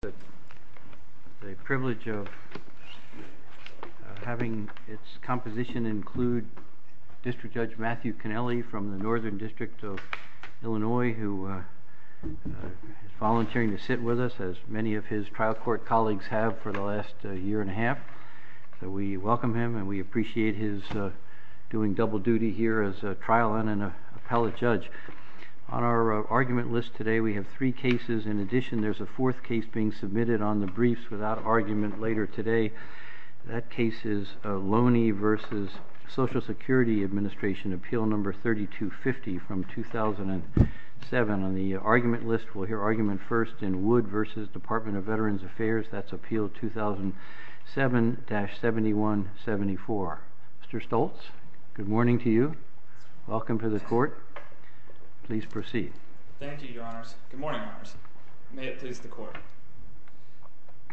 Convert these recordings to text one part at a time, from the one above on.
The privilege of having its composition include District Judge Matthew Connelly from the Northern District of Illinois, who is volunteering to sit with us, as many of his trial court colleagues have for the last year and a half. We welcome him and we appreciate his doing double duty here as a trial and an appellate judge. On our argument list today, we have three cases. In addition to being submitted on the briefs without argument later today, that case is Loney v. Social Security Administration, appeal number 3250 from 2007. On the argument list, we'll hear argument first in Wood v. Department of Veterans Affairs. That's appeal 2007-7174. Mr. Stoltz, good morning to you. Welcome to the court. Please proceed. Thank you, Your Honors. Good morning, Honors. May it please the court.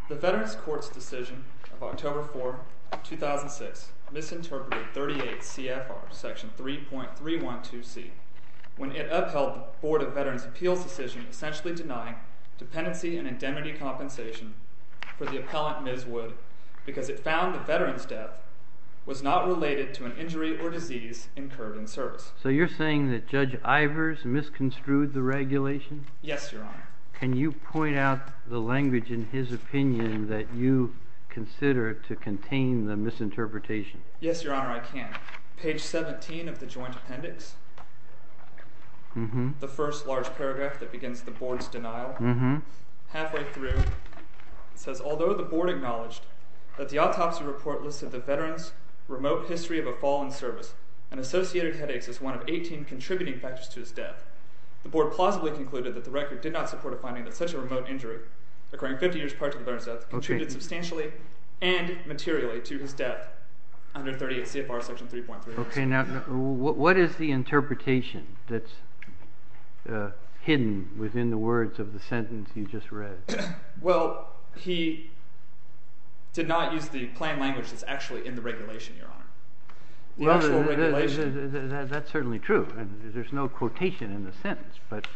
The Veterans Court's decision of October 4, 2006 misinterpreted 38 CFR section 3.312C when it upheld the Board of Veterans Appeals' decision essentially denying dependency and indemnity compensation for the appellant, Ms. Wood, because it found the veteran's death was not related to an injury or disease incurred in service. So you're saying that Judge Ivers misconstrued the regulation? Yes, Your Honor. Can you point out the language in his opinion that you consider to contain the misinterpretation? Yes, Your Honor, I can. Page 17 of the joint appendix, the first large paragraph that begins the board's denial, halfway through, it says, Although the board acknowledged that the autopsy report listed the veteran's remote history of a fall in service and associated headaches as one of 18 contributing factors to his death, the board plausibly concluded that the record did not support a finding that such a remote injury occurring 50 years prior to the veteran's death contributed substantially and materially to his death under 38 CFR section 3.312C. Okay. Now, what is the interpretation that's hidden within the words of the sentence you just read? Well, he did not use the plain language that's actually in the regulation, Your Honor. Well, that's certainly true. There's no quotation in the sentence. But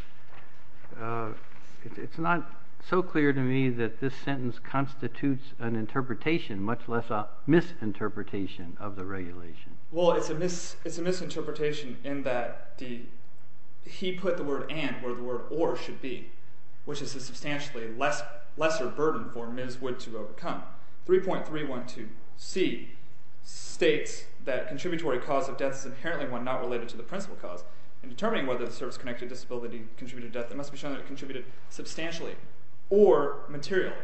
it's not so clear to me that this sentence constitutes an interpretation, much less a misinterpretation of the regulation. Well, it's a misinterpretation in that he put the word and where the word or should be, which is a substantially lesser burden for Ms. Wood to overcome. 3.312C states that contributory cause of death is inherently one not related to the principal cause. In determining whether the service-connected disability contributed to death, it must be shown that it contributed substantially or materially,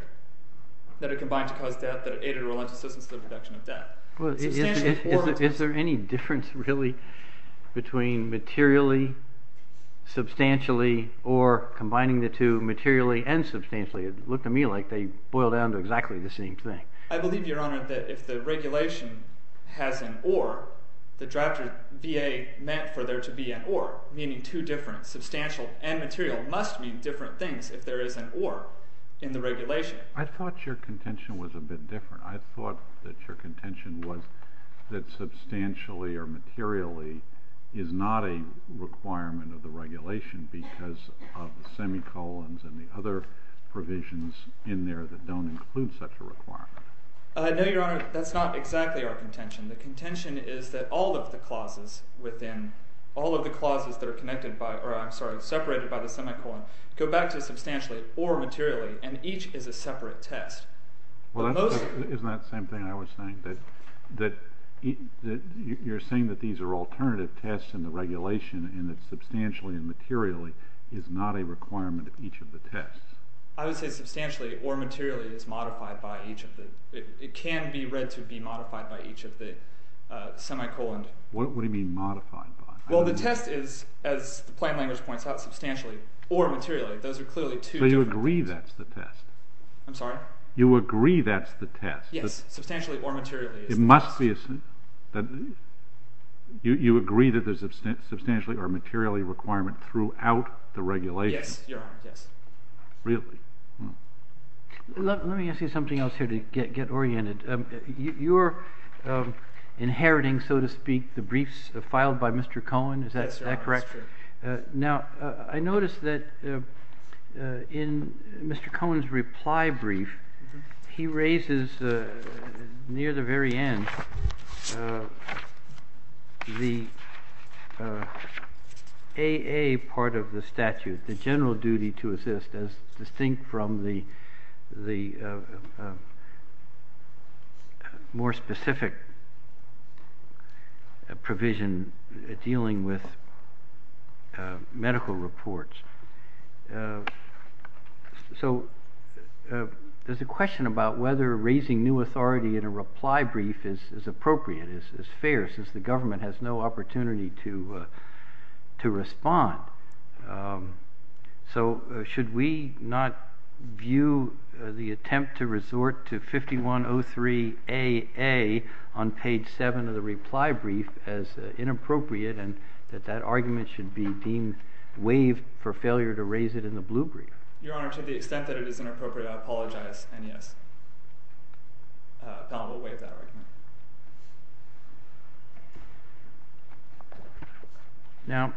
that it combined to cause death, that it aided or relented to the reduction of death. Well, is there any difference really between materially, substantially, or combining the two, materially and substantially? It looked to me like they boil down to exactly the same thing. I believe, Your Honor, that if the regulation has an or, the drafter VA meant for there to be an or, meaning two different, substantial and material, must mean different things if there is an or in the regulation. I thought your contention was a bit different. I thought that your contention was that substantially or materially is not a requirement of the regulation because of the semicolons and the other provisions in there that don't include such a requirement. No, Your Honor, that's not exactly our contention. The contention is that all of the clauses within, all of the clauses that are connected by, or I'm sorry, separated by the semicolon go back to substantially or materially, and each is a separate test. Well, isn't that the same thing I was saying, that you're saying that these are alternative tests in the regulation and that substantially and materially is not a requirement of each of the tests? I would say substantially or materially is modified by each of the, it can be read to be modified by each of the semicolons. What do you mean modified by? Well, the test is, as the plain language points out, substantially or materially. Those are clearly two different things. So you agree that's the test? I'm sorry? You agree that's the test? Yes, substantially or materially is the test. It must be, you agree that there's a substantially or materially requirement throughout the regulation? Yes, Your Honor, yes. Really? Let me ask you something else here to get oriented. You're inheriting, so to speak, the briefs filed by Mr. Cohen, is that correct? Yes, Your Honor, that's correct. Now, I noticed that in Mr. Cohen's reply brief, he raises near the very end the AA part of the statute, the general duty to assist, as distinct from the more specific provision dealing with medical reports. So there's a question about whether raising new authority in a reply brief is appropriate, is fair, since the government has no opportunity to respond. So should we not view the attempt to resort to 5103AA on page 7 of the reply brief as inappropriate, and that that argument should be deemed, waived for failure to raise it in the blue brief? Your Honor, to the extent that it is inappropriate, I apologize, and yes. The panel will waive that argument. Now,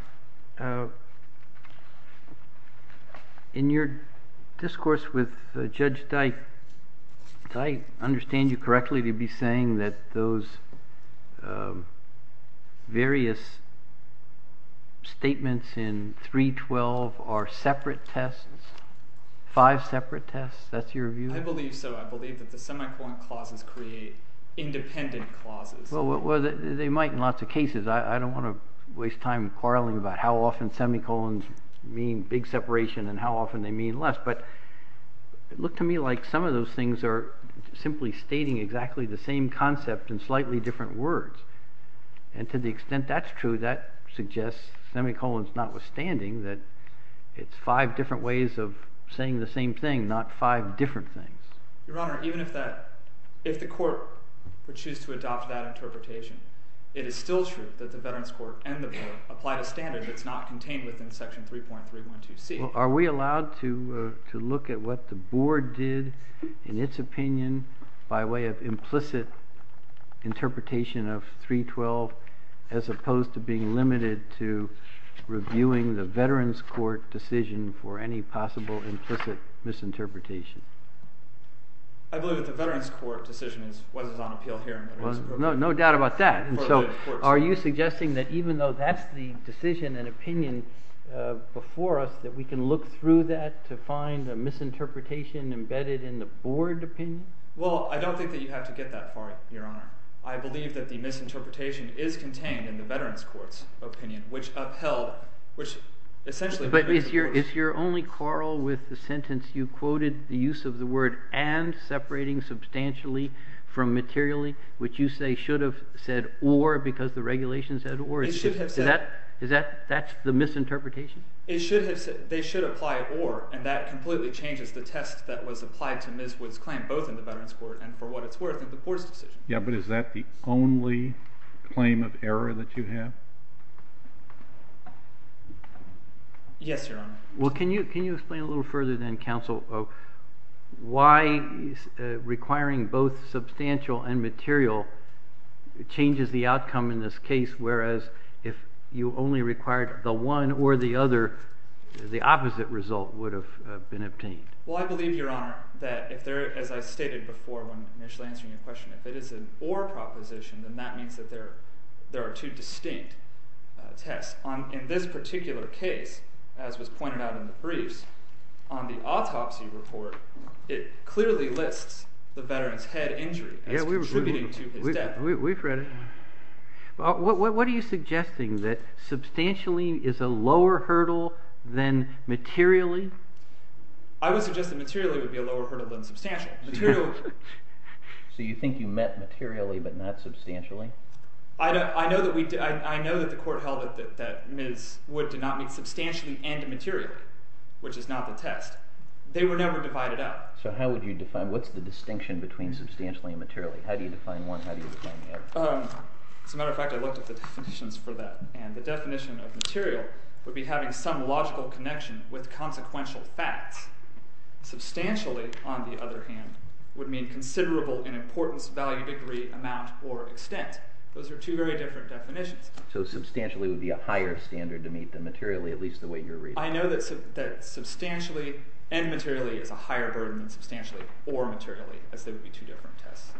in your discourse with Judge Dyke, did I understand you correctly to be saying that those various statements in 312 are separate tests, five separate tests? That's your view? I believe so. I believe that the semicolon clauses create independent clauses. Well, they might in lots of cases. I don't want to waste time quarreling about how often semicolons mean big separation and how often they mean less. But it looked to me like some of those things are simply stating exactly the same concept in slightly different words. And to the extent that's true, that suggests, semicolons notwithstanding, that it's five different ways of saying the same thing, not five different things. Your Honor, even if the court would choose to adopt that interpretation, it is still true that the Veterans Court and the board applied a standard that's not contained within Section 3.312C. Well, are we allowed to look at what the board did in its opinion by way of implicit interpretation of 312, as opposed to being limited to reviewing the Veterans Court decision for any possible implicit misinterpretation? I believe that the Veterans Court decision was on appeal here. No doubt about that. Do you believe, before us, that we can look through that to find a misinterpretation embedded in the board opinion? Well, I don't think that you have to get that far, Your Honor. I believe that the misinterpretation is contained in the Veterans Court's opinion, which upheld, which essentially- But is your only quarrel with the sentence you quoted, the use of the word and separating substantially from materially, which you say should have said or because the regulation said or? Is that the misinterpretation? They should apply or, and that completely changes the test that was applied to Ms. Wood's claim both in the Veterans Court and for what it's worth in the board's decision. Yeah, but is that the only claim of error that you have? Yes, Your Honor. Well, can you explain a little further then, Counsel, why requiring both substantial and material changes the outcome in this case whereas if you only required the one or the other, the opposite result would have been obtained? Well, I believe, Your Honor, that if there, as I stated before when initially answering your question, if it is an or proposition, then that means that there are two distinct tests. In this particular case, as was pointed out in the briefs, on the autopsy report, it clearly lists the veteran's head injury as contributing to his death. We've read it. What are you suggesting? That substantially is a lower hurdle than materially? I would suggest that materially would be a lower hurdle than substantial. So you think you meant materially but not substantially? I know that the court held that Ms. Wood did not meet substantially and materially, which is not the test. They were never divided up. So how would you define, what's the distinction between substantially and materially? How do you define one? How do you define the other? As a matter of fact, I looked at the definitions for that, and the definition of material would be having some logical connection with consequential facts. Substantially, on the other hand, would mean considerable in importance, value, degree, amount, or extent. Those are two very different definitions. So substantially would be a higher standard to meet than materially, at least the way you're reading it? I know that substantially and materially is a higher burden than substantially or materially, as they would be two different tests.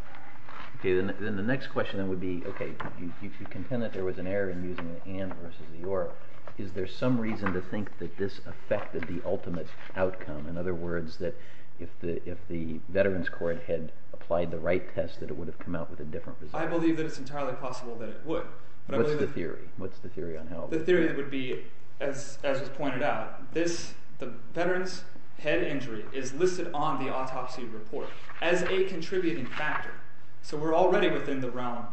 Then the next question would be, if you contend that there was an error in using the and versus the or, is there some reason to think that this affected the ultimate outcome? In other words, that if the Veterans Court had applied the right test, that it would have come out with a different result? I believe that it's entirely possible that it would. What's the theory? What's the theory on how? The theory would be, as was pointed out, the veteran's head injury is listed on the autopsy report as a contributing factor. So we're already within the realm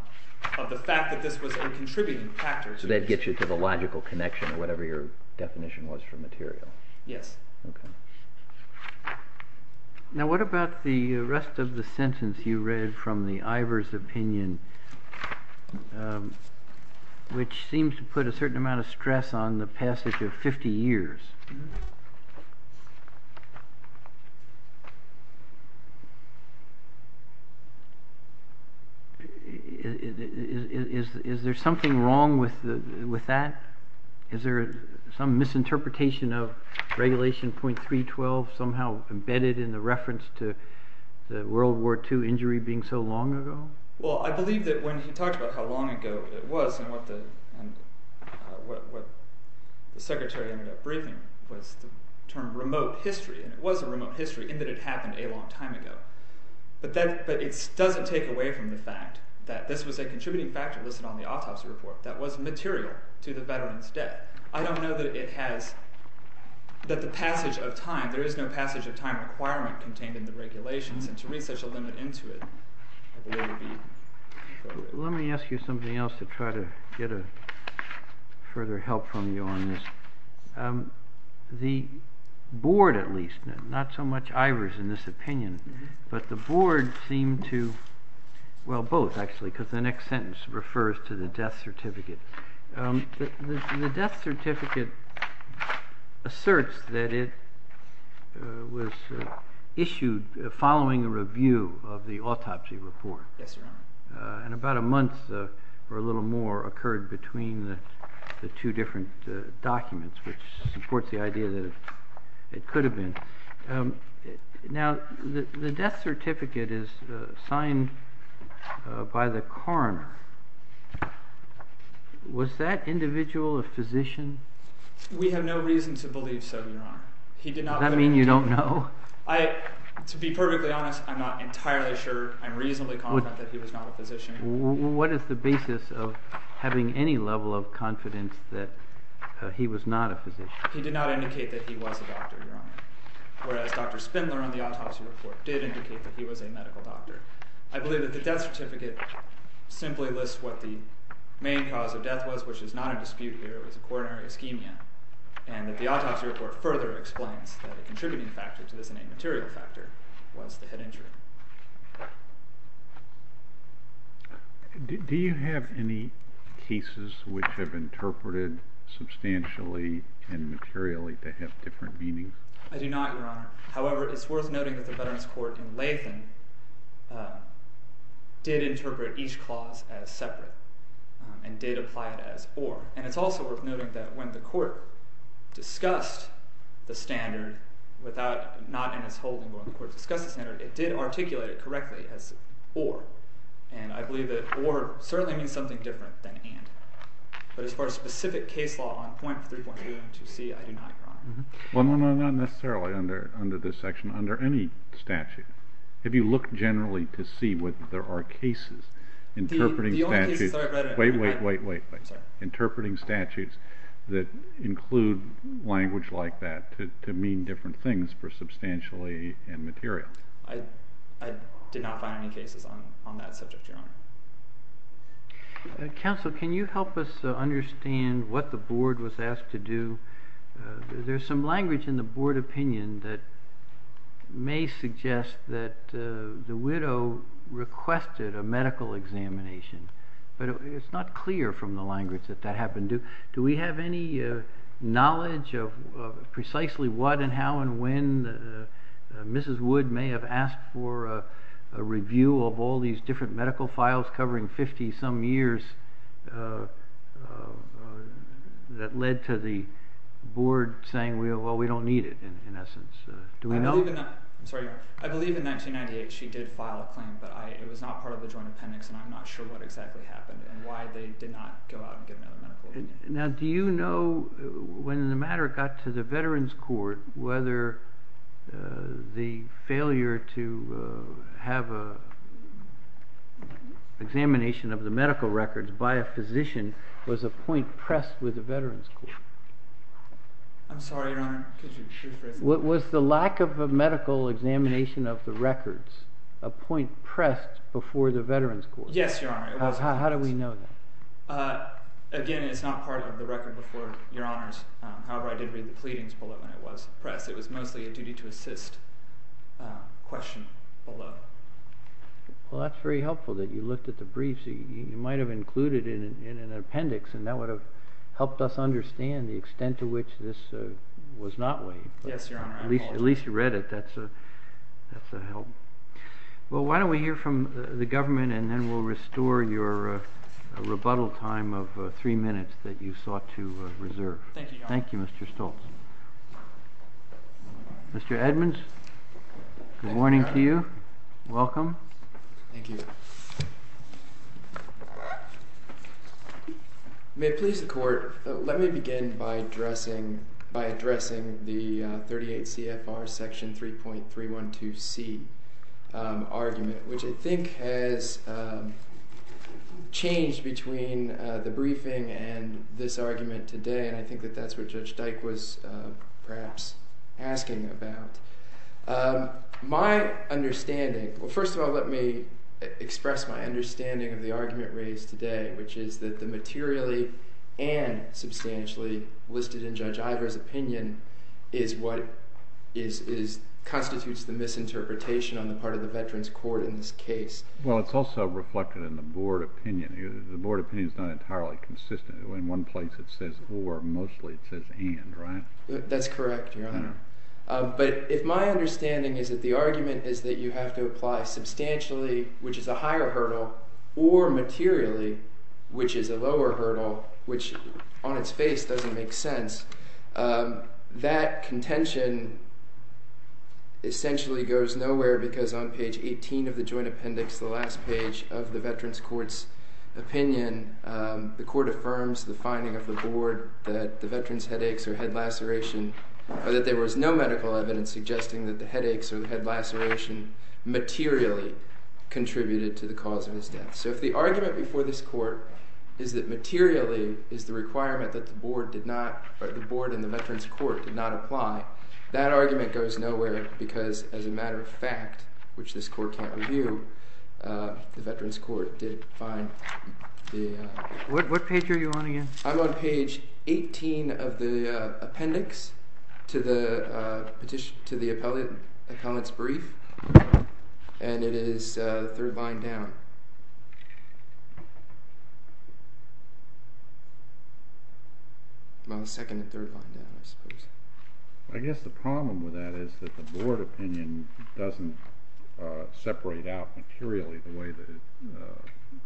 of the fact that this was a contributing factor. So that gets you to the logical connection or whatever your definition was for material? Yes. Now what about the rest of the sentence you read from the Ivers opinion, which seems to put a certain amount of stress on the passage of 50 years? Is there something wrong with that? Is there some misinterpretation of regulation .312 somehow embedded in the reference to the World War II injury being so long ago? Well, I believe that when he talked about how long ago it was and what the secretary ended up briefing was the term remote history, and it was a remote history in that it happened a long time ago. But it doesn't take away from the fact that this was a contributing factor listed on the autopsy report that was material to the veteran's death. I don't know that the passage of time, there is no passage of time requirement contained in the regulations, and to raise such a limit into it I believe would be appropriate. Let me ask you something else to try to get further help from you on this. The board at least, not so much Ivers in this opinion, but the board seemed to, well both actually, because the next sentence refers to the death certificate. The death certificate asserts that it was issued following a review of the autopsy report. Yes, Your Honor. And about a month or a little more occurred between the two different documents, which supports the idea that it could have been. Now, the death certificate is signed by the coroner. Was that individual a physician? We have no reason to believe so, Your Honor. Does that mean you don't know? To be perfectly honest, I'm not entirely sure. I'm reasonably confident that he was not a physician. What is the basis of having any level of confidence that he was not a physician? He did not indicate that he was a doctor, Your Honor, whereas Dr. Spindler on the autopsy report did indicate that he was a medical doctor. I believe that the death certificate simply lists what the main cause of death was, which is not in dispute here, it was coronary ischemia, and that the autopsy report further explains that a contributing factor to this innate material factor was the head injury. Do you have any cases which have interpreted substantially and materially to have different meanings? I do not, Your Honor. However, it's worth noting that the Veterans Court in Latham did interpret each clause as separate and did apply it as or. And it's also worth noting that when the court discussed the standard, not in its whole, but when the court discussed the standard, it did articulate it correctly as or. And I believe that or certainly means something different than and. But as far as specific case law on point 3.2.2c, I do not, Your Honor. Well, no, no, not necessarily under this section. Under any statute, if you look generally to see whether there are cases interpreting statutes that include language like that to mean different things for substantially and materially. I did not find any cases on that subject, Your Honor. Counsel, can you help us understand what the board was asked to do? There's some language in the board opinion that may suggest that the widow requested a medical examination. But it's not clear from the language that that happened. Do we have any knowledge of precisely what and how and when Mrs. Wood may have asked for a review of all these different medical files covering 50-some years that led to the board saying, well, we don't need it, in essence. I'm sorry. I believe in 1998 she did file a claim. But it was not part of the joint appendix. And I'm not sure what exactly happened and why they did not go out and get another medical review. Now, do you know when the matter got to the Veterans Court whether the failure to have an examination of the medical records by a physician I'm sorry, Your Honor. Was the lack of a medical examination of the records a point pressed before the Veterans Court? Yes, Your Honor. How do we know that? Again, it's not part of the record before, Your Honors. However, I did read the pleadings below when it was pressed. It was mostly a duty to assist question below. Well, that's very helpful that you looked at the briefs. You might have included it in an appendix, and that would have helped us understand the extent to which this was not laid. Yes, Your Honor. At least you read it. That's a help. Well, why don't we hear from the government, and then we'll restore your rebuttal time of three minutes that you sought to reserve. Thank you, Your Honor. Thank you, Mr. Stoltz. Mr. Edmonds, good morning to you. Welcome. Thank you. May it please the Court, let me begin by addressing the 38 CFR Section 3.312C argument, which I think has changed between the briefing and this argument today, and I think that that's what Judge Dyke was perhaps asking about. My understanding, well, first of all, let me express my understanding of the argument raised today, which is that the materially and substantially listed in Judge Ivor's opinion is what constitutes the misinterpretation on the part of the Veterans Court in this case. Well, it's also reflected in the board opinion. The board opinion is not entirely consistent. In one place it says or, mostly it says and, right? That's correct, Your Honor. But if my understanding is that the argument is that you have to apply substantially, which is a higher hurdle, or materially, which is a lower hurdle, which on its face doesn't make sense, that contention essentially goes nowhere because on page 18 of the joint appendix, the last page of the Veterans Court's opinion, the Court affirms the finding of the board that the Veterans Headaches or head laceration, or that there was no medical evidence suggesting that the headaches or the head laceration materially contributed to the cause of his death. So if the argument before this court is that materially is the requirement that the board did not, or the board in the Veterans Court did not apply, that argument goes nowhere because as a matter of fact, which this court can't review, the Veterans Court did find the... What page are you on again? I'm on page 18 of the appendix to the petition, to the appellate's brief, and it is the third line down. I'm on the second and third line down, I suppose. I guess the problem with that is that the board opinion doesn't separate out materially the way the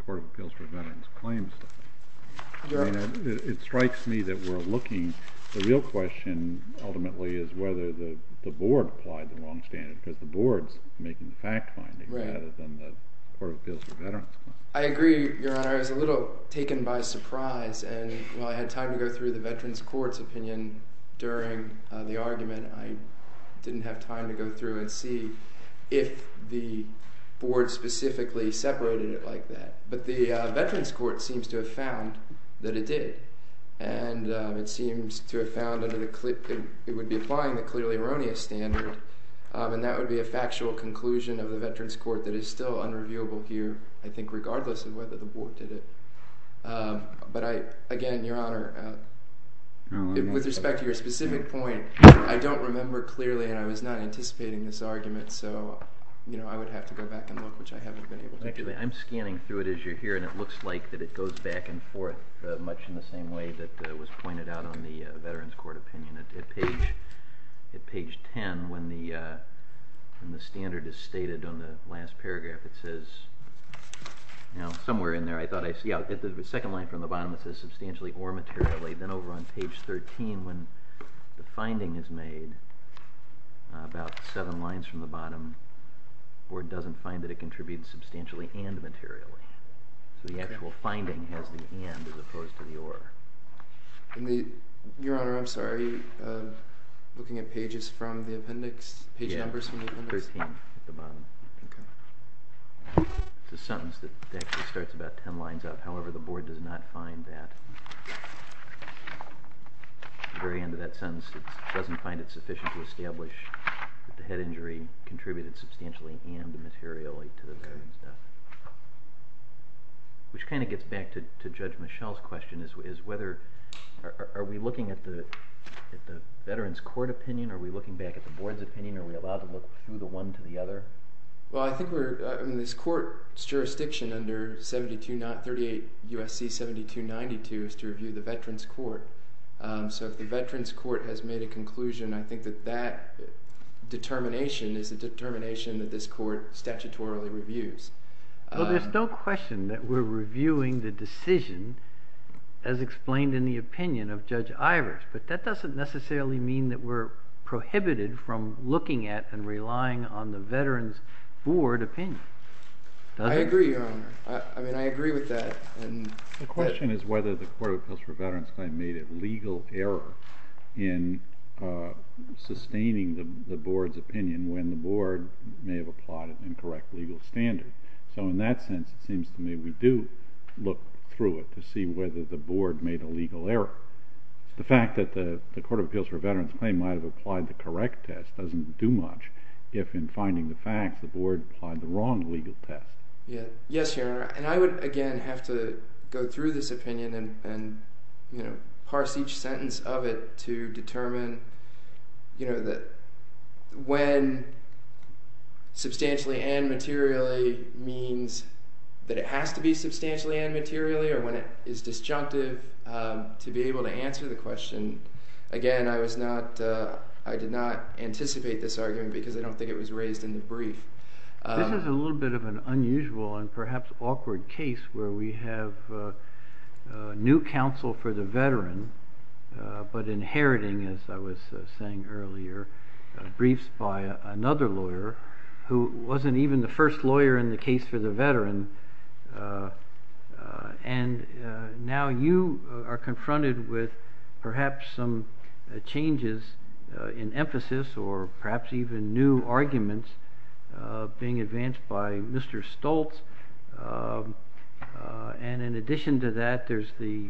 Court of Appeals for Veterans claims to. It strikes me that we're looking... The real question ultimately is whether the board applied the wrong standard because the board's making the fact finding rather than the Court of Appeals for Veterans claim. I agree, Your Honor. I was a little taken by surprise, and while I had time to go through the Veterans Court's opinion during the argument, I didn't have time to go through and see if the board specifically separated it like that. But the Veterans Court seems to have found that it did, and it seems to have found that it would be applying the clearly erroneous standard, and that would be a factual conclusion of the Veterans Court that is still unreviewable here, I think, regardless of whether the board did it. But again, Your Honor, with respect to your specific point, I don't remember clearly, and I was not anticipating this argument, so I would have to go back and look, which I haven't been able to do. Actually, I'm scanning through it as you're here, and it looks like that it goes back and forth much in the same way that was pointed out on the Veterans Court opinion. At page 10, when the standard is stated on the last paragraph, it says... Now, somewhere in there, I thought I'd see it. The second line from the bottom, it says substantially or materially. Then over on page 13, when the finding is made, about seven lines from the bottom, the board doesn't find that it contributes substantially and materially. So the actual finding has the and as opposed to the or. Your Honor, I'm sorry. Looking at pages from the appendix, page numbers from the appendix? Yeah, 13 at the bottom. It's a sentence that actually starts about 10 lines up. However, the board does not find that. At the very end of that sentence, it doesn't find it sufficient to establish that the head injury contributed substantially and materially to the veteran's death. Which kind of gets back to Judge Michelle's question. Are we looking at the Veterans Court opinion? Are we looking back at the board's opinion? Are we allowed to look through the one to the other? Well, I think we're in this court's jurisdiction under 38 U.S.C. 7292 is to review the Veterans Court. So if the Veterans Court has made a conclusion, I think that that determination is a determination that this court statutorily reviews. Well, there's no question that we're reviewing the decision as explained in the opinion of Judge Ivers. But that doesn't necessarily mean that we're prohibited from looking at and relying on the Veterans Board opinion. I agree, Your Honor. I mean, I agree with that. The question is whether the Court of Appeals for Veterans Claim made a legal error in sustaining the board's opinion when the board may have applied an incorrect legal standard. So in that sense, it seems to me we do look through it to see whether the board made a legal error. The fact that the Court of Appeals for Veterans Claim might have applied the correct test doesn't do much if in finding the fact the board applied the wrong legal test. Yes, Your Honor. And I would, again, have to go through this opinion and, you know, parse each sentence of it to determine, you know, when substantially and materially means that it has to be substantially and materially or when it is disjunctive to be able to answer the question. Again, I was not – I did not anticipate this argument because I don't think it was raised in the brief. This is a little bit of an unusual and perhaps awkward case where we have new counsel for the veteran but inheriting, as I was saying earlier, briefs by another lawyer who wasn't even the first lawyer in the case for the veteran, and now you are confronted with perhaps some changes in emphasis or perhaps even new arguments being advanced by Mr. Stoltz. And in addition to that, there's the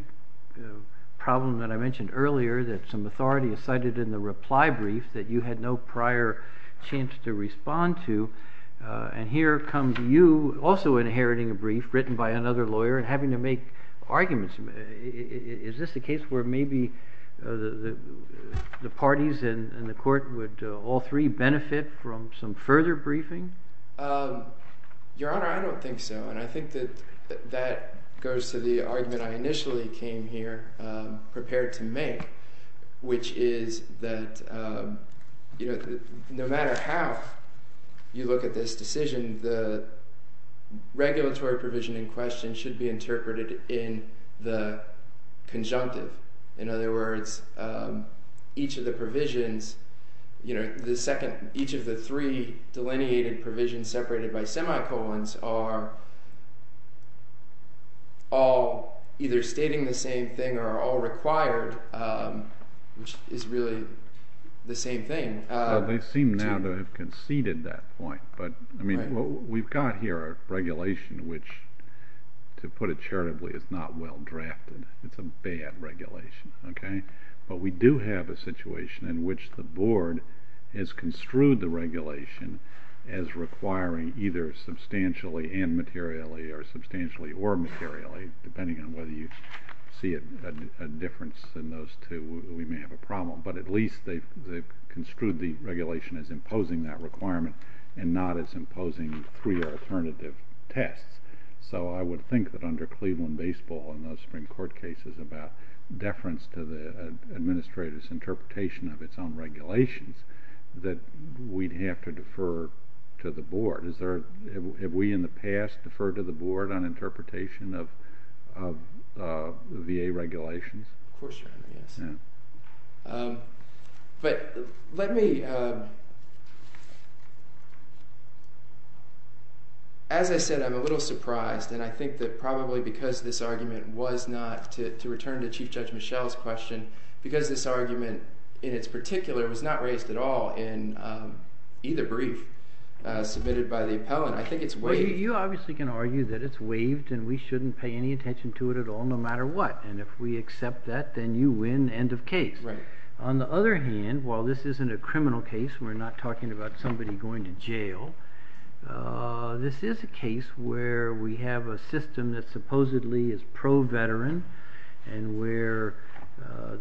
problem that I mentioned earlier that some authority is cited in the reply brief that you had no prior chance to respond to, and here comes you also inheriting a brief written by another lawyer and having to make arguments. Is this a case where maybe the parties in the court would all three benefit from some further briefing? Your Honor, I don't think so, and I think that that goes to the argument I initially came here prepared to make, which is that, you know, no matter how you look at this decision, the regulatory provision in question should be interpreted in the conjunctive. In other words, each of the provisions, you know, each of the three delineated provisions separated by semicolons are all either stating the same thing or are all required, which is really the same thing. Well, they seem now to have conceded that point, but, I mean, we've got here a regulation which, to put it charitably, is not well drafted. It's a bad regulation, okay? But we do have a situation in which the board has construed the regulation as requiring either substantially and materially or substantially or materially, depending on whether you see a difference in those two. We may have a problem, but at least they've construed the regulation as imposing that requirement and not as imposing three alternative tests. So I would think that under Cleveland baseball and those Supreme Court cases about deference to the administrator's interpretation of its own regulations that we'd have to defer to the board. Have we in the past deferred to the board on interpretation of VA regulations? Of course, Your Honor, yes. But let me, as I said, I'm a little surprised, and I think that probably because this argument was not, to return to Chief Judge Michel's question, because this argument in its particular was not raised at all in either brief submitted by the appellant, I think it's waived. Well, you obviously can argue that it's waived and we shouldn't pay any attention to it at all, no matter what. And if we accept that, then you win end of case. On the other hand, while this isn't a criminal case, we're not talking about somebody going to jail, this is a case where we have a system that supposedly is pro-veteran and where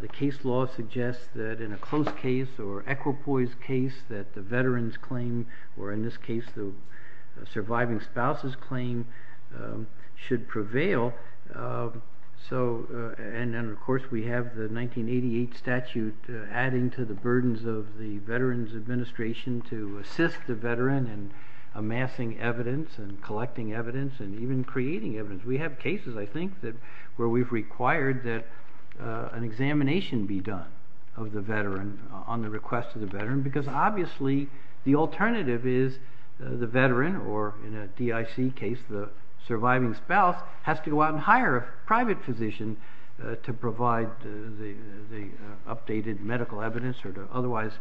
the case law suggests that in a close case or equipoise case that the veteran's claim, or in this case the surviving spouse's claim, should prevail. And then, of course, we have the 1988 statute adding to the burdens of the Veterans Administration to assist the veteran in amassing evidence and collecting evidence and even creating evidence. We have cases, I think, where we've required that an examination be done of the veteran on the request of the veteran because obviously the alternative is the veteran, or in a DIC case, the surviving spouse, has to go out and hire a private physician to provide the updated medical evidence or to otherwise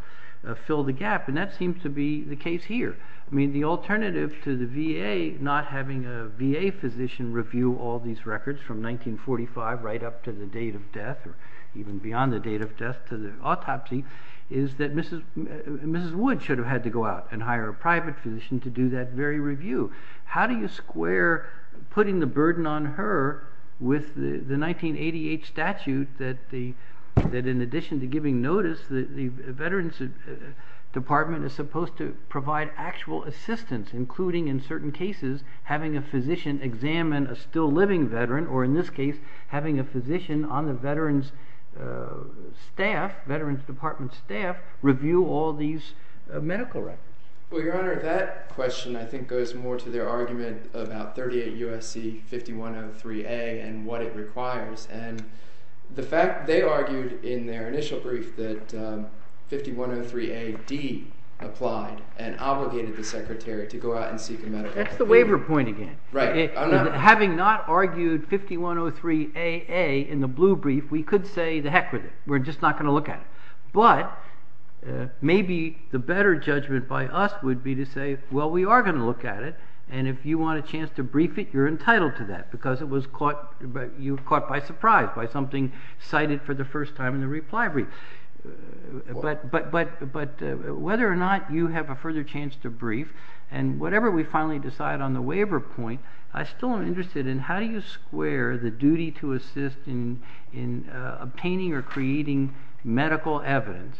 fill the gap, and that seems to be the case here. I mean, the alternative to the VA not having a VA physician review all these records from 1945 right up to the date of death or even beyond the date of death to the autopsy is that Mrs. Wood should have had to go out and hire a private physician to do that very review. How do you square putting the burden on her with the 1988 statute that, in addition to giving notice, the Veterans Department is supposed to provide actual assistance, including in certain cases having a physician examine a still-living veteran or, in this case, having a physician on the Veterans Department staff review all these medical records? Well, Your Honor, that question I think goes more to their argument about 38 U.S.C. 5103A and what it requires, and the fact they argued in their initial brief that 5103A.D. applied and obligated the secretary to go out and seek a medical review. That's the waiver point again. Having not argued 5103A.A. in the blue brief, we could say the heck with it. We're just not going to look at it. But maybe the better judgment by us would be to say, well, we are going to look at it, and if you want a chance to brief it, you're entitled to that because you were caught by surprise by something cited for the first time in the reply brief. But whether or not you have a further chance to brief and whenever we finally decide on the waiver point, I still am interested in how do you square the duty to assist in obtaining or creating medical evidence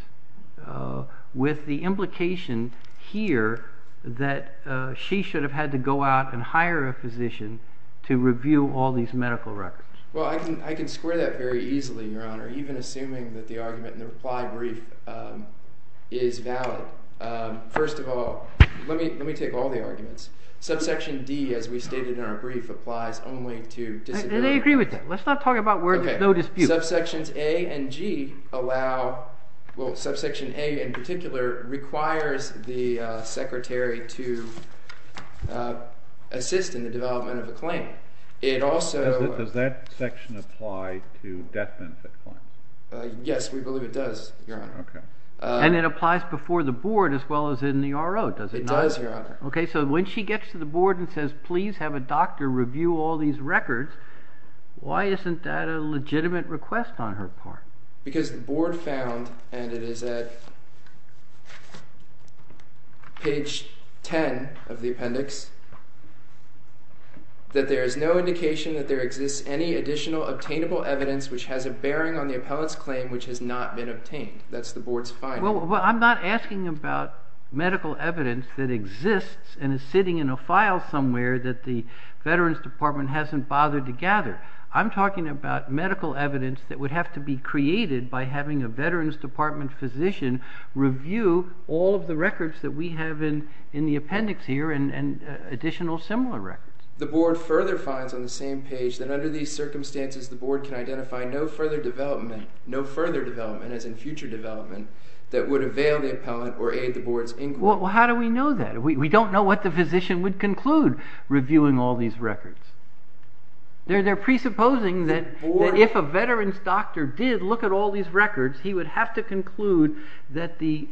with the implication here that she should have had to go out and hire a physician to review all these medical records. Well, I can square that very easily, Your Honor, even assuming that the argument in the reply brief is valid. First of all, let me take all the arguments. Subsection D, as we stated in our brief, applies only to disability. Do they agree with that? Let's not talk about where there's no dispute. Subsections A and G allow – well, subsection A in particular requires the secretary to assist in the development of a claim. It also – Does that section apply to death benefit claims? Yes, we believe it does, Your Honor. And it applies before the board as well as in the RO, does it not? It does, Your Honor. Okay, so when she gets to the board and says, please have a doctor review all these records, why isn't that a legitimate request on her part? Because the board found, and it is at page 10 of the appendix, that there is no indication that there exists any additional obtainable evidence which has a bearing on the appellant's claim which has not been obtained. That's the board's finding. Well, I'm not asking about medical evidence that exists and is sitting in a file somewhere that the Veterans Department hasn't bothered to gather. I'm talking about medical evidence that would have to be created by having a Veterans Department physician review all of the records that we have in the appendix here and additional similar records. The board further finds on the same page that under these circumstances, the board can identify no further development, no further development as in future development, that would avail the appellant or aid the board's inquiry. Well, how do we know that? We don't know what the physician would conclude reviewing all these records. They're presupposing that if a veterans doctor did look at all these records, he would have to conclude that the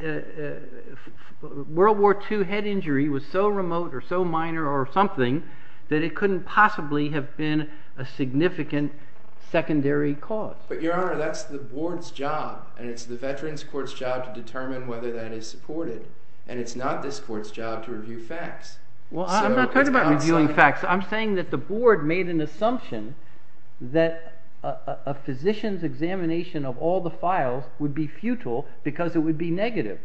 World War II head injury was so remote or so minor or something that it couldn't possibly have been a significant secondary cause. But, Your Honor, that's the board's job and it's the Veterans Court's job to determine whether that is supported, and it's not this court's job to review facts. Well, I'm not talking about reviewing facts. I'm saying that the board made an assumption that a physician's examination of all the files would be futile because it would be negative,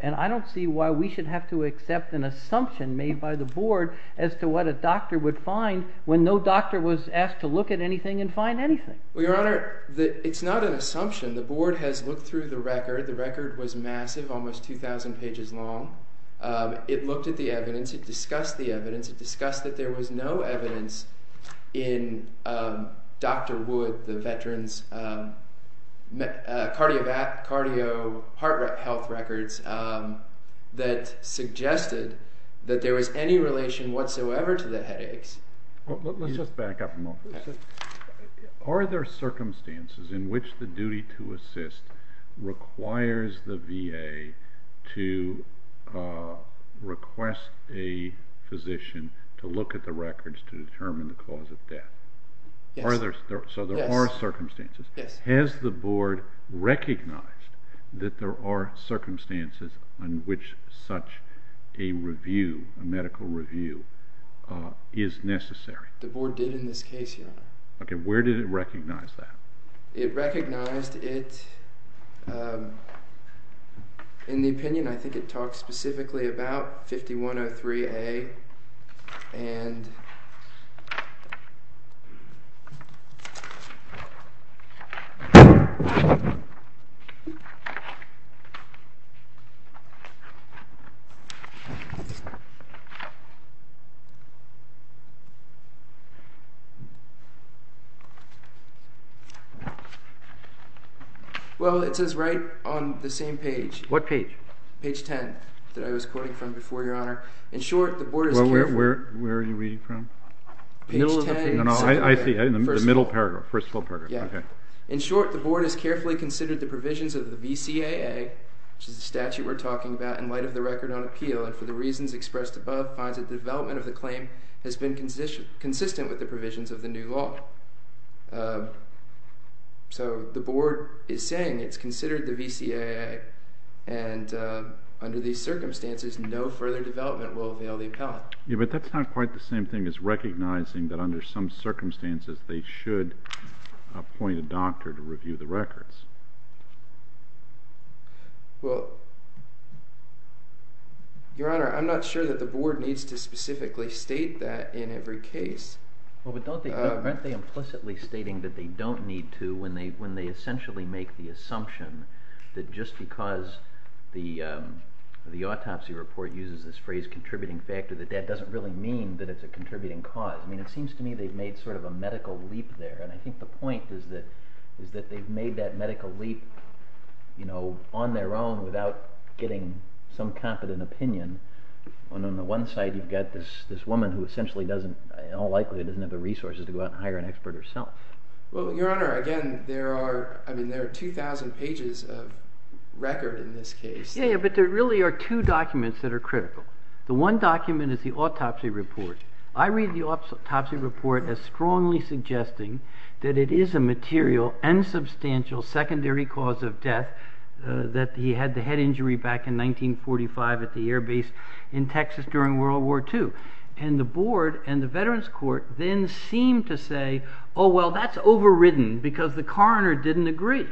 and I don't see why we should have to accept an assumption made by the board as to what a doctor would find when no doctor was asked to look at anything and find anything. Well, Your Honor, it's not an assumption. The board has looked through the record. The record was massive, almost 2,000 pages long. It looked at the evidence. It discussed the evidence. It discussed that there was no evidence in Dr. Wood, the veterans' cardio-heart health records, that suggested that there was any relation whatsoever to the headaches. Let's just back up a moment. Are there circumstances in which the duty to assist requires the VA to request a physician to look at the records to determine the cause of death? Yes. So there are circumstances. Has the board recognized that there are circumstances in which such a review, a medical review, is necessary? The board did in this case, Your Honor. Okay. Where did it recognize that? It recognized it. In the opinion, I think it talked specifically about 5103A and Well, it says right on the same page. What page? Page 10 that I was quoting from before, Your Honor. In short, the board has carefully considered the provisions of the VCAA, which is the statute we're talking about in light of the record on appeal, and for the reasons expressed above, finds that the development of the claim has been consistent with the provisions of the new law. So the board is saying it's considered the VCAA, and under these circumstances no further development will avail the appellant. Yeah, but that's not quite the same thing as recognizing that under some circumstances they should appoint a doctor to review the records. Well, Your Honor, I'm not sure that the board needs to specifically state that in every case. Well, but aren't they implicitly stating that they don't need to when they essentially make the assumption that just because the autopsy report uses this phrase, contributing factor, that that doesn't really mean that it's a contributing cause. I mean, it seems to me they've made sort of a medical leap there, and I think the point is that they've made that medical leap on their own without getting some competent opinion, when on the one side you've got this woman who essentially doesn't, in all likelihood, doesn't have the resources to go out and hire an expert herself. Well, Your Honor, again, there are 2,000 pages of record in this case. Yeah, but there really are two documents that are critical. The one document is the autopsy report. I read the autopsy report as strongly suggesting that it is a material and substantial secondary cause of death, that he had the head injury back in 1945 at the air base in Texas during World War II. And the board and the Veterans Court then seem to say, oh, well, that's overridden because the coroner didn't agree.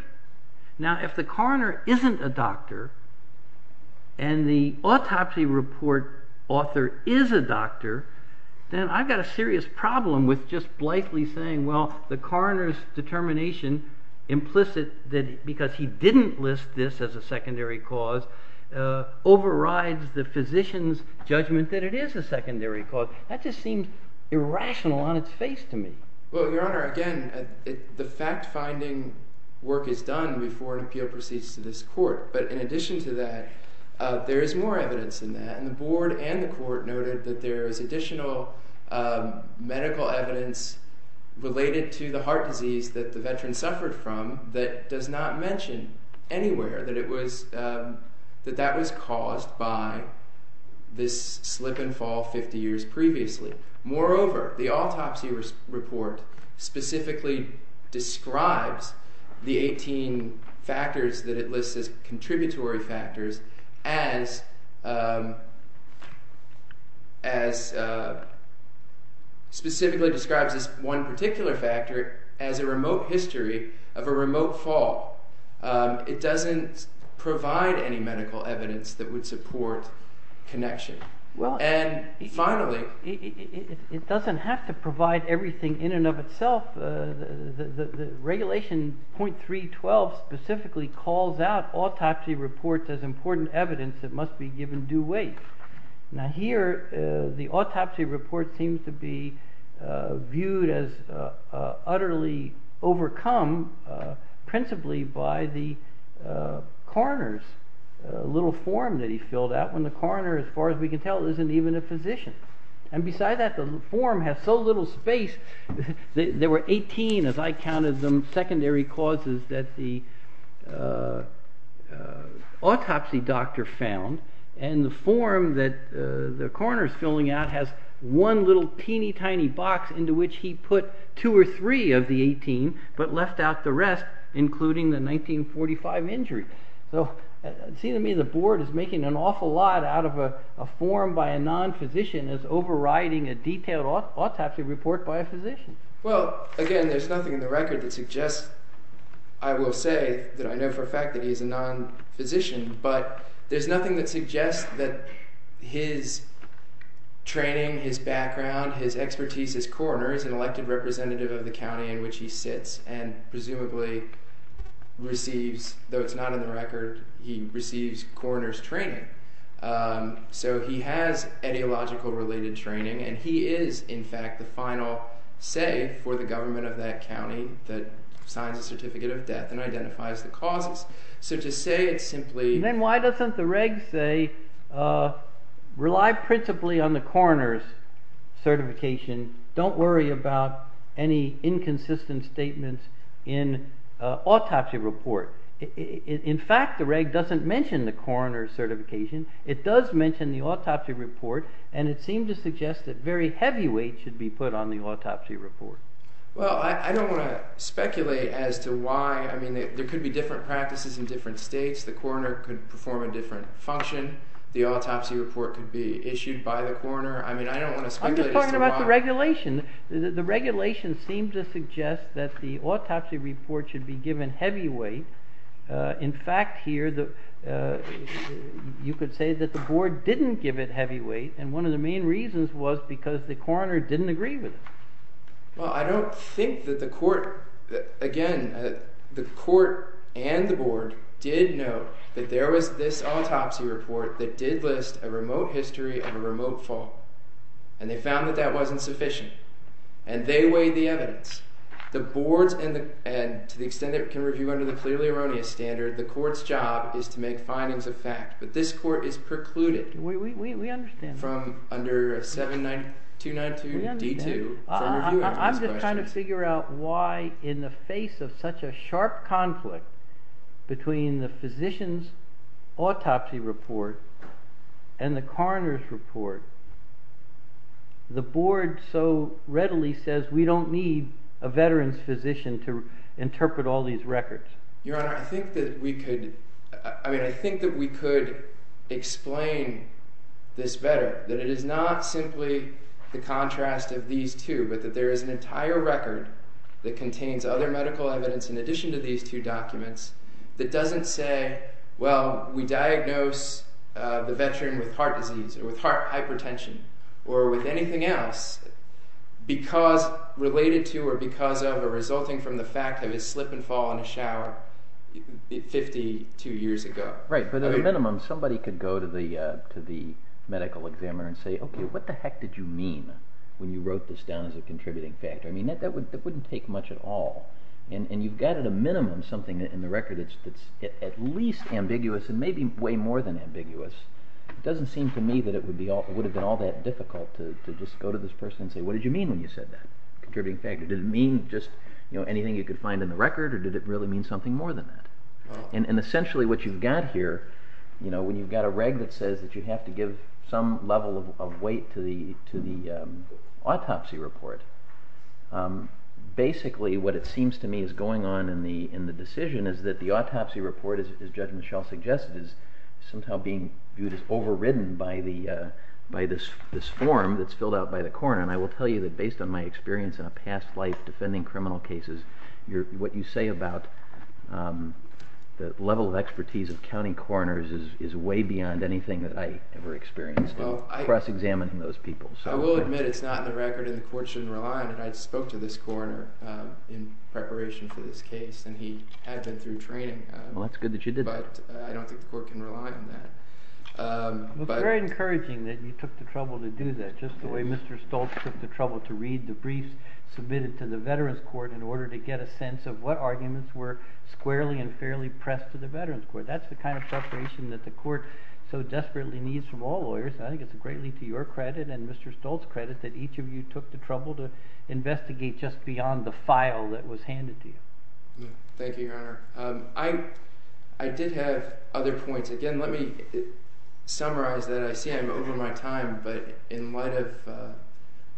Now, if the coroner isn't a doctor, and the autopsy report author is a doctor, then I've got a serious problem with just blithely saying, well, the coroner's determination implicit that because he didn't list this as a secondary cause overrides the physician's judgment that it is a secondary cause. That just seems irrational on its face to me. Well, Your Honor, again, the fact-finding work is done before an appeal proceeds to this court. But in addition to that, there is more evidence than that, and the board and the court noted that there is additional medical evidence related to the heart disease that the veteran suffered from that does not mention anywhere that that was caused by this slip and fall 50 years previously. Moreover, the autopsy report specifically describes the 18 factors that it lists as contributory factors as specifically describes this one particular factor as a remote history of a remote fall. It doesn't provide any medical evidence that would support connection. And finally— It doesn't have to provide everything in and of itself. The regulation .312 specifically calls out autopsy reports as important evidence that must be given due weight. Now here, the autopsy report seems to be viewed as utterly overcome, principally by the coroner's little form that he filled out, when the coroner, as far as we can tell, isn't even a physician. And besides that, the form has so little space. There were 18, as I counted them, secondary causes that the autopsy doctor found, and the form that the coroner is filling out has one little teeny tiny box into which he put two or three of the 18, but left out the rest, including the 1945 injury. So it seems to me the board is making an awful lot out of a form by a non-physician as overriding a detailed autopsy report by a physician. Well, again, there's nothing in the record that suggests— I will say that I know for a fact that he's a non-physician, but there's nothing that suggests that his training, his background, his expertise as coroner is an elected representative of the county in which he sits and presumably receives—though it's not in the record—he receives coroner's training. So he has etiological-related training, and he is, in fact, the final say for the government of that county that signs a certificate of death and identifies the causes. So to say it's simply— Then why doesn't the reg say, rely principally on the coroner's certification, don't worry about any inconsistent statements in autopsy report? In fact, the reg doesn't mention the coroner's certification. It does mention the autopsy report, and it seemed to suggest that very heavy weight should be put on the autopsy report. Well, I don't want to speculate as to why. I mean, there could be different practices in different states. The coroner could perform a different function. The autopsy report could be issued by the coroner. I mean, I don't want to speculate as to why. I'm just talking about the regulation. The regulation seemed to suggest that the autopsy report should be given heavy weight. In fact, here, you could say that the board didn't give it heavy weight, and one of the main reasons was because the coroner didn't agree with it. Well, I don't think that the court— again, the court and the board did note that there was this autopsy report that did list a remote history of a remote fall, and they found that that wasn't sufficient, and they weighed the evidence. The boards, and to the extent it can review under the clearly erroneous standard, the court's job is to make findings of fact. But this court is precluded— We understand that. —from under 7292D2 from reviewing these questions. I'm just trying to figure out why, in the face of such a sharp conflict between the physician's autopsy report and the coroner's report, the board so readily says, we don't need a veteran's physician to interpret all these records. Your Honor, I think that we could explain this better, that it is not simply the contrast of these two, but that there is an entire record that contains other medical evidence in addition to these two documents that doesn't say, well, we diagnose the veteran with heart disease or with heart hypertension or with anything else related to or because of or resulting from the fact that he slipped and fell in the shower 52 years ago. Right, but at a minimum, somebody could go to the medical examiner and say, okay, what the heck did you mean when you wrote this down as a contributing factor? I mean, that wouldn't take much at all. And you've got at a minimum something in the record that's at least ambiguous and maybe way more than ambiguous. It doesn't seem to me that it would have been all that difficult to just go to this person and say, what did you mean when you said that? Contributing factor. Did it mean just anything you could find in the record or did it really mean something more than that? And essentially what you've got here, when you've got a reg that says that you have to give some level of weight to the autopsy report, basically what it seems to me is going on in the decision is that the autopsy report, as Judge Michelle suggested, is somehow being viewed as overridden by this form that's filled out by the coroner. And I will tell you that based on my experience in a past life defending criminal cases, what you say about the level of expertise of county coroners is way beyond anything that I ever experienced. I will admit it's not in the record and the court shouldn't rely on it. I spoke to this coroner in preparation for this case, and he had been through training. Well, that's good that you did that. But I don't think the court can rely on that. It's very encouraging that you took the trouble to do that, just the way Mr. Stoltz took the trouble to read the briefs submitted to the Veterans Court in order to get a sense of what arguments were squarely and fairly pressed to the Veterans Court. That's the kind of preparation that the court so desperately needs from all lawyers. I think it's a great lead to your credit and Mr. Stoltz' credit that each of you took the trouble to investigate just beyond the file that was handed to you. Thank you, Your Honor. I did have other points. Again, let me summarize that. I see I'm over my time, but in light of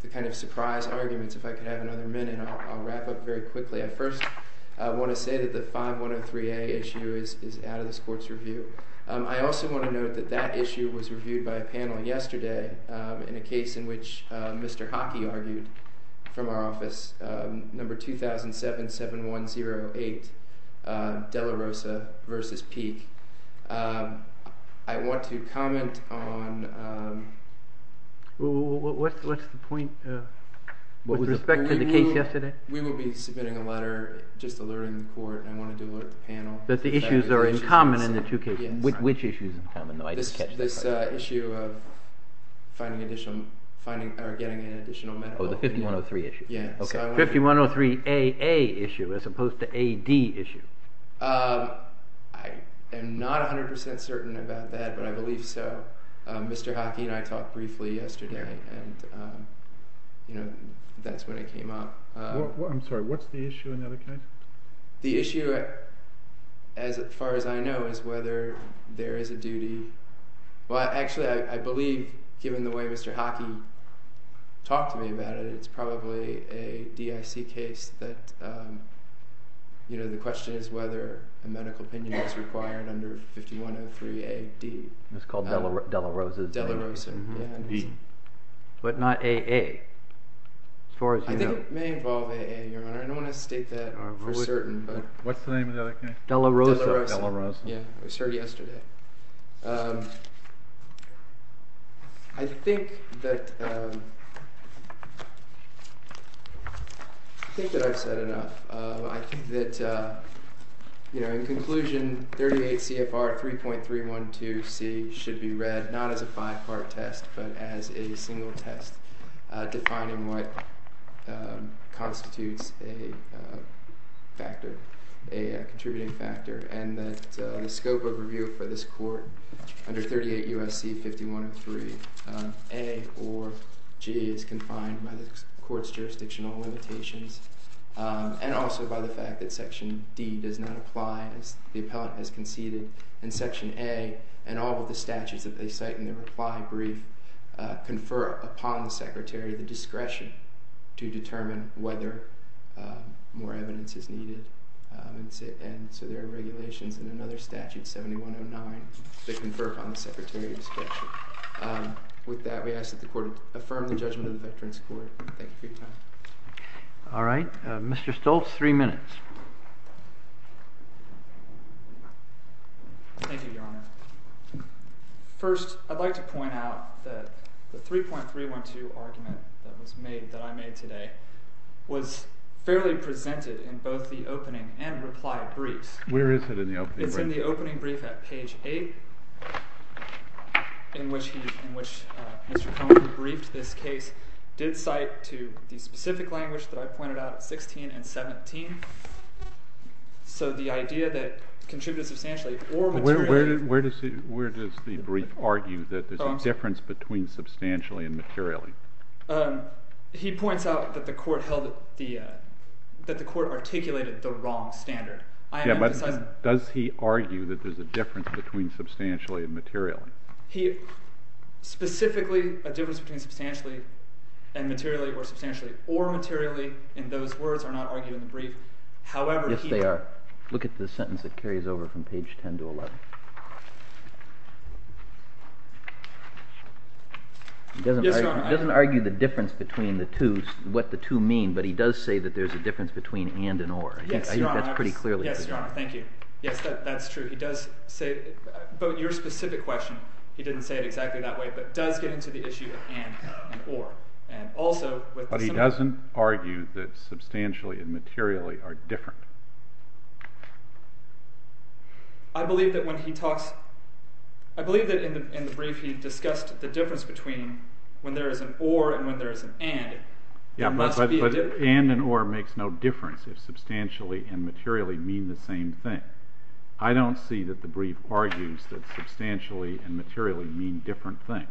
the kind of surprise arguments, if I could have another minute, I'll wrap up very quickly. I first want to say that the 5103A issue is out of this court's review. I also want to note that that issue was reviewed by a panel yesterday in a case in which Mr. Hockey argued from our office, number 20077108, De La Rosa v. Peek. I want to comment on... What's the point with respect to the case yesterday? We will be submitting a letter just alerting the court. I wanted to alert the panel. That the issues are in common in the two cases? Which issues are in common? This issue of getting an additional medical opinion. Oh, the 5103 issue? Yes. 5103AA issue as opposed to AD issue. I am not 100% certain about that, but I believe so. Mr. Hockey and I talked briefly yesterday, and that's when it came up. I'm sorry, what's the issue in that case? The issue, as far as I know, is whether there is a duty... Well, actually, I believe, given the way Mr. Hockey talked to me about it, it's probably a DIC case that... You know, the question is whether a medical opinion is required under 5103AD. It's called De La Rosa. De La Rosa, yeah. But not AA, as far as you know. I think it may involve AA, Your Honor. I don't want to state that for certain, but... What's the name of the other case? De La Rosa. De La Rosa, yeah. It was heard yesterday. I think that... I think that I've said enough. I think that, in conclusion, 38 CFR 3.312C should be read not as a five-part test, but as a single test defining what constitutes a factor, a contributing factor, and that the scope of review for this court under 38 U.S.C. 5103A or G is confined by the court's jurisdictional limitations and also by the fact that Section D does not apply as the appellant has conceded. And Section A and all of the statutes that they cite in their reply brief confer upon the secretary the discretion to determine whether more evidence is needed. And so there are regulations in another statute, 7109, that confer upon the secretary discretion. With that, we ask that the court affirm the judgment of the Veterans Court. Thank you for your time. All right. Mr. Stoltz, three minutes. Thank you, Your Honor. First, I'd like to point out that the 3.312 argument that was made, that I made today, was fairly presented in both the opening and reply briefs. Where is it in the opening brief? It's in the opening brief at page 8, in which Mr. Conant briefed this case, did cite to the specific language that I pointed out at 16 and 17. So the idea that contributed substantially or materially. Where does the brief argue that there's a difference between substantially and materially? He points out that the court articulated the wrong standard. Yeah, but does he argue that there's a difference between substantially and materially? Specifically, a difference between substantially and materially or substantially or materially, in those words, are not argued in the brief. Yes, they are. Look at the sentence that carries over from page 10 to 11. He doesn't argue the difference between the two, what the two mean, but he does say that there's a difference between and and or. Yes, Your Honor. I think that's pretty clear. Yes, Your Honor. Thank you. Yes, that's true. He does say it. But your specific question, he didn't say it exactly that way, but does get into the issue of and and or. But he doesn't argue that substantially and materially are different. I believe that in the brief he discussed the difference between when there is an or and when there is an and. Yeah, but and and or makes no difference if substantially and materially mean the same thing. I don't see that the brief argues that substantially and materially mean different things.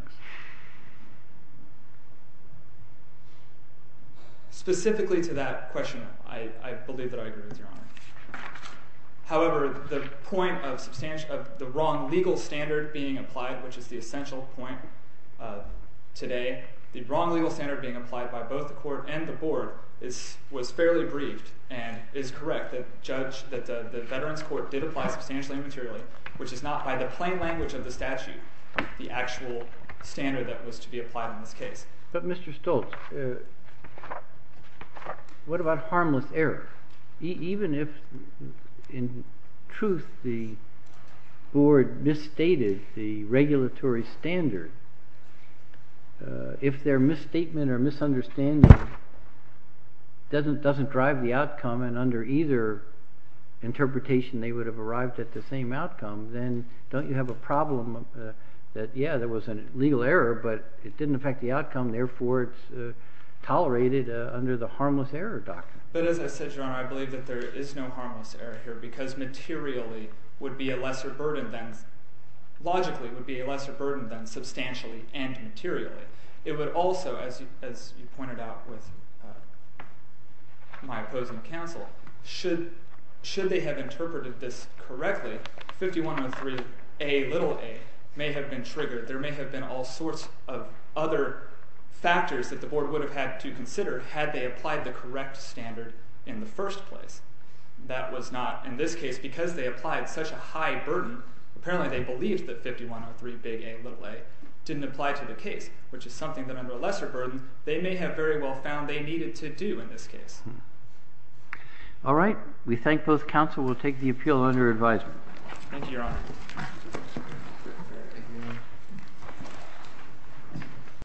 Specifically to that question, I believe that I agree with Your Honor. However, the point of the wrong legal standard being applied, which is the essential point today, the wrong legal standard being applied by both the Court and the Board was fairly briefed and is correct that the Veterans Court did apply substantially and materially, which is not by the plain language of the statute the actual standard that was to be applied in this case. But, Mr. Stoltz, what about harmless error? Even if, in truth, the Board misstated the regulatory standard, if their misstatement or misunderstanding doesn't drive the outcome and under either interpretation they would have arrived at the same outcome, then don't you have a problem that, yeah, there was a legal error, but it didn't affect the outcome, therefore it's tolerated under the harmless error doctrine? But as I said, Your Honor, I believe that there is no harmless error here because materially would be a lesser burden than substantially and materially. It would also, as you pointed out with my opposing counsel, should they have interpreted this correctly, 5103Aa may have been triggered. There may have been all sorts of other factors that the Board would have had to consider had they applied the correct standard in the first place. That was not in this case because they applied such a high burden. Apparently they believed that 5103Aa didn't apply to the case, which is something that under a lesser burden they may have very well found they needed to do in this case. All right. We thank both counsel. We'll take the appeal under advisement. Thank you, Your Honor.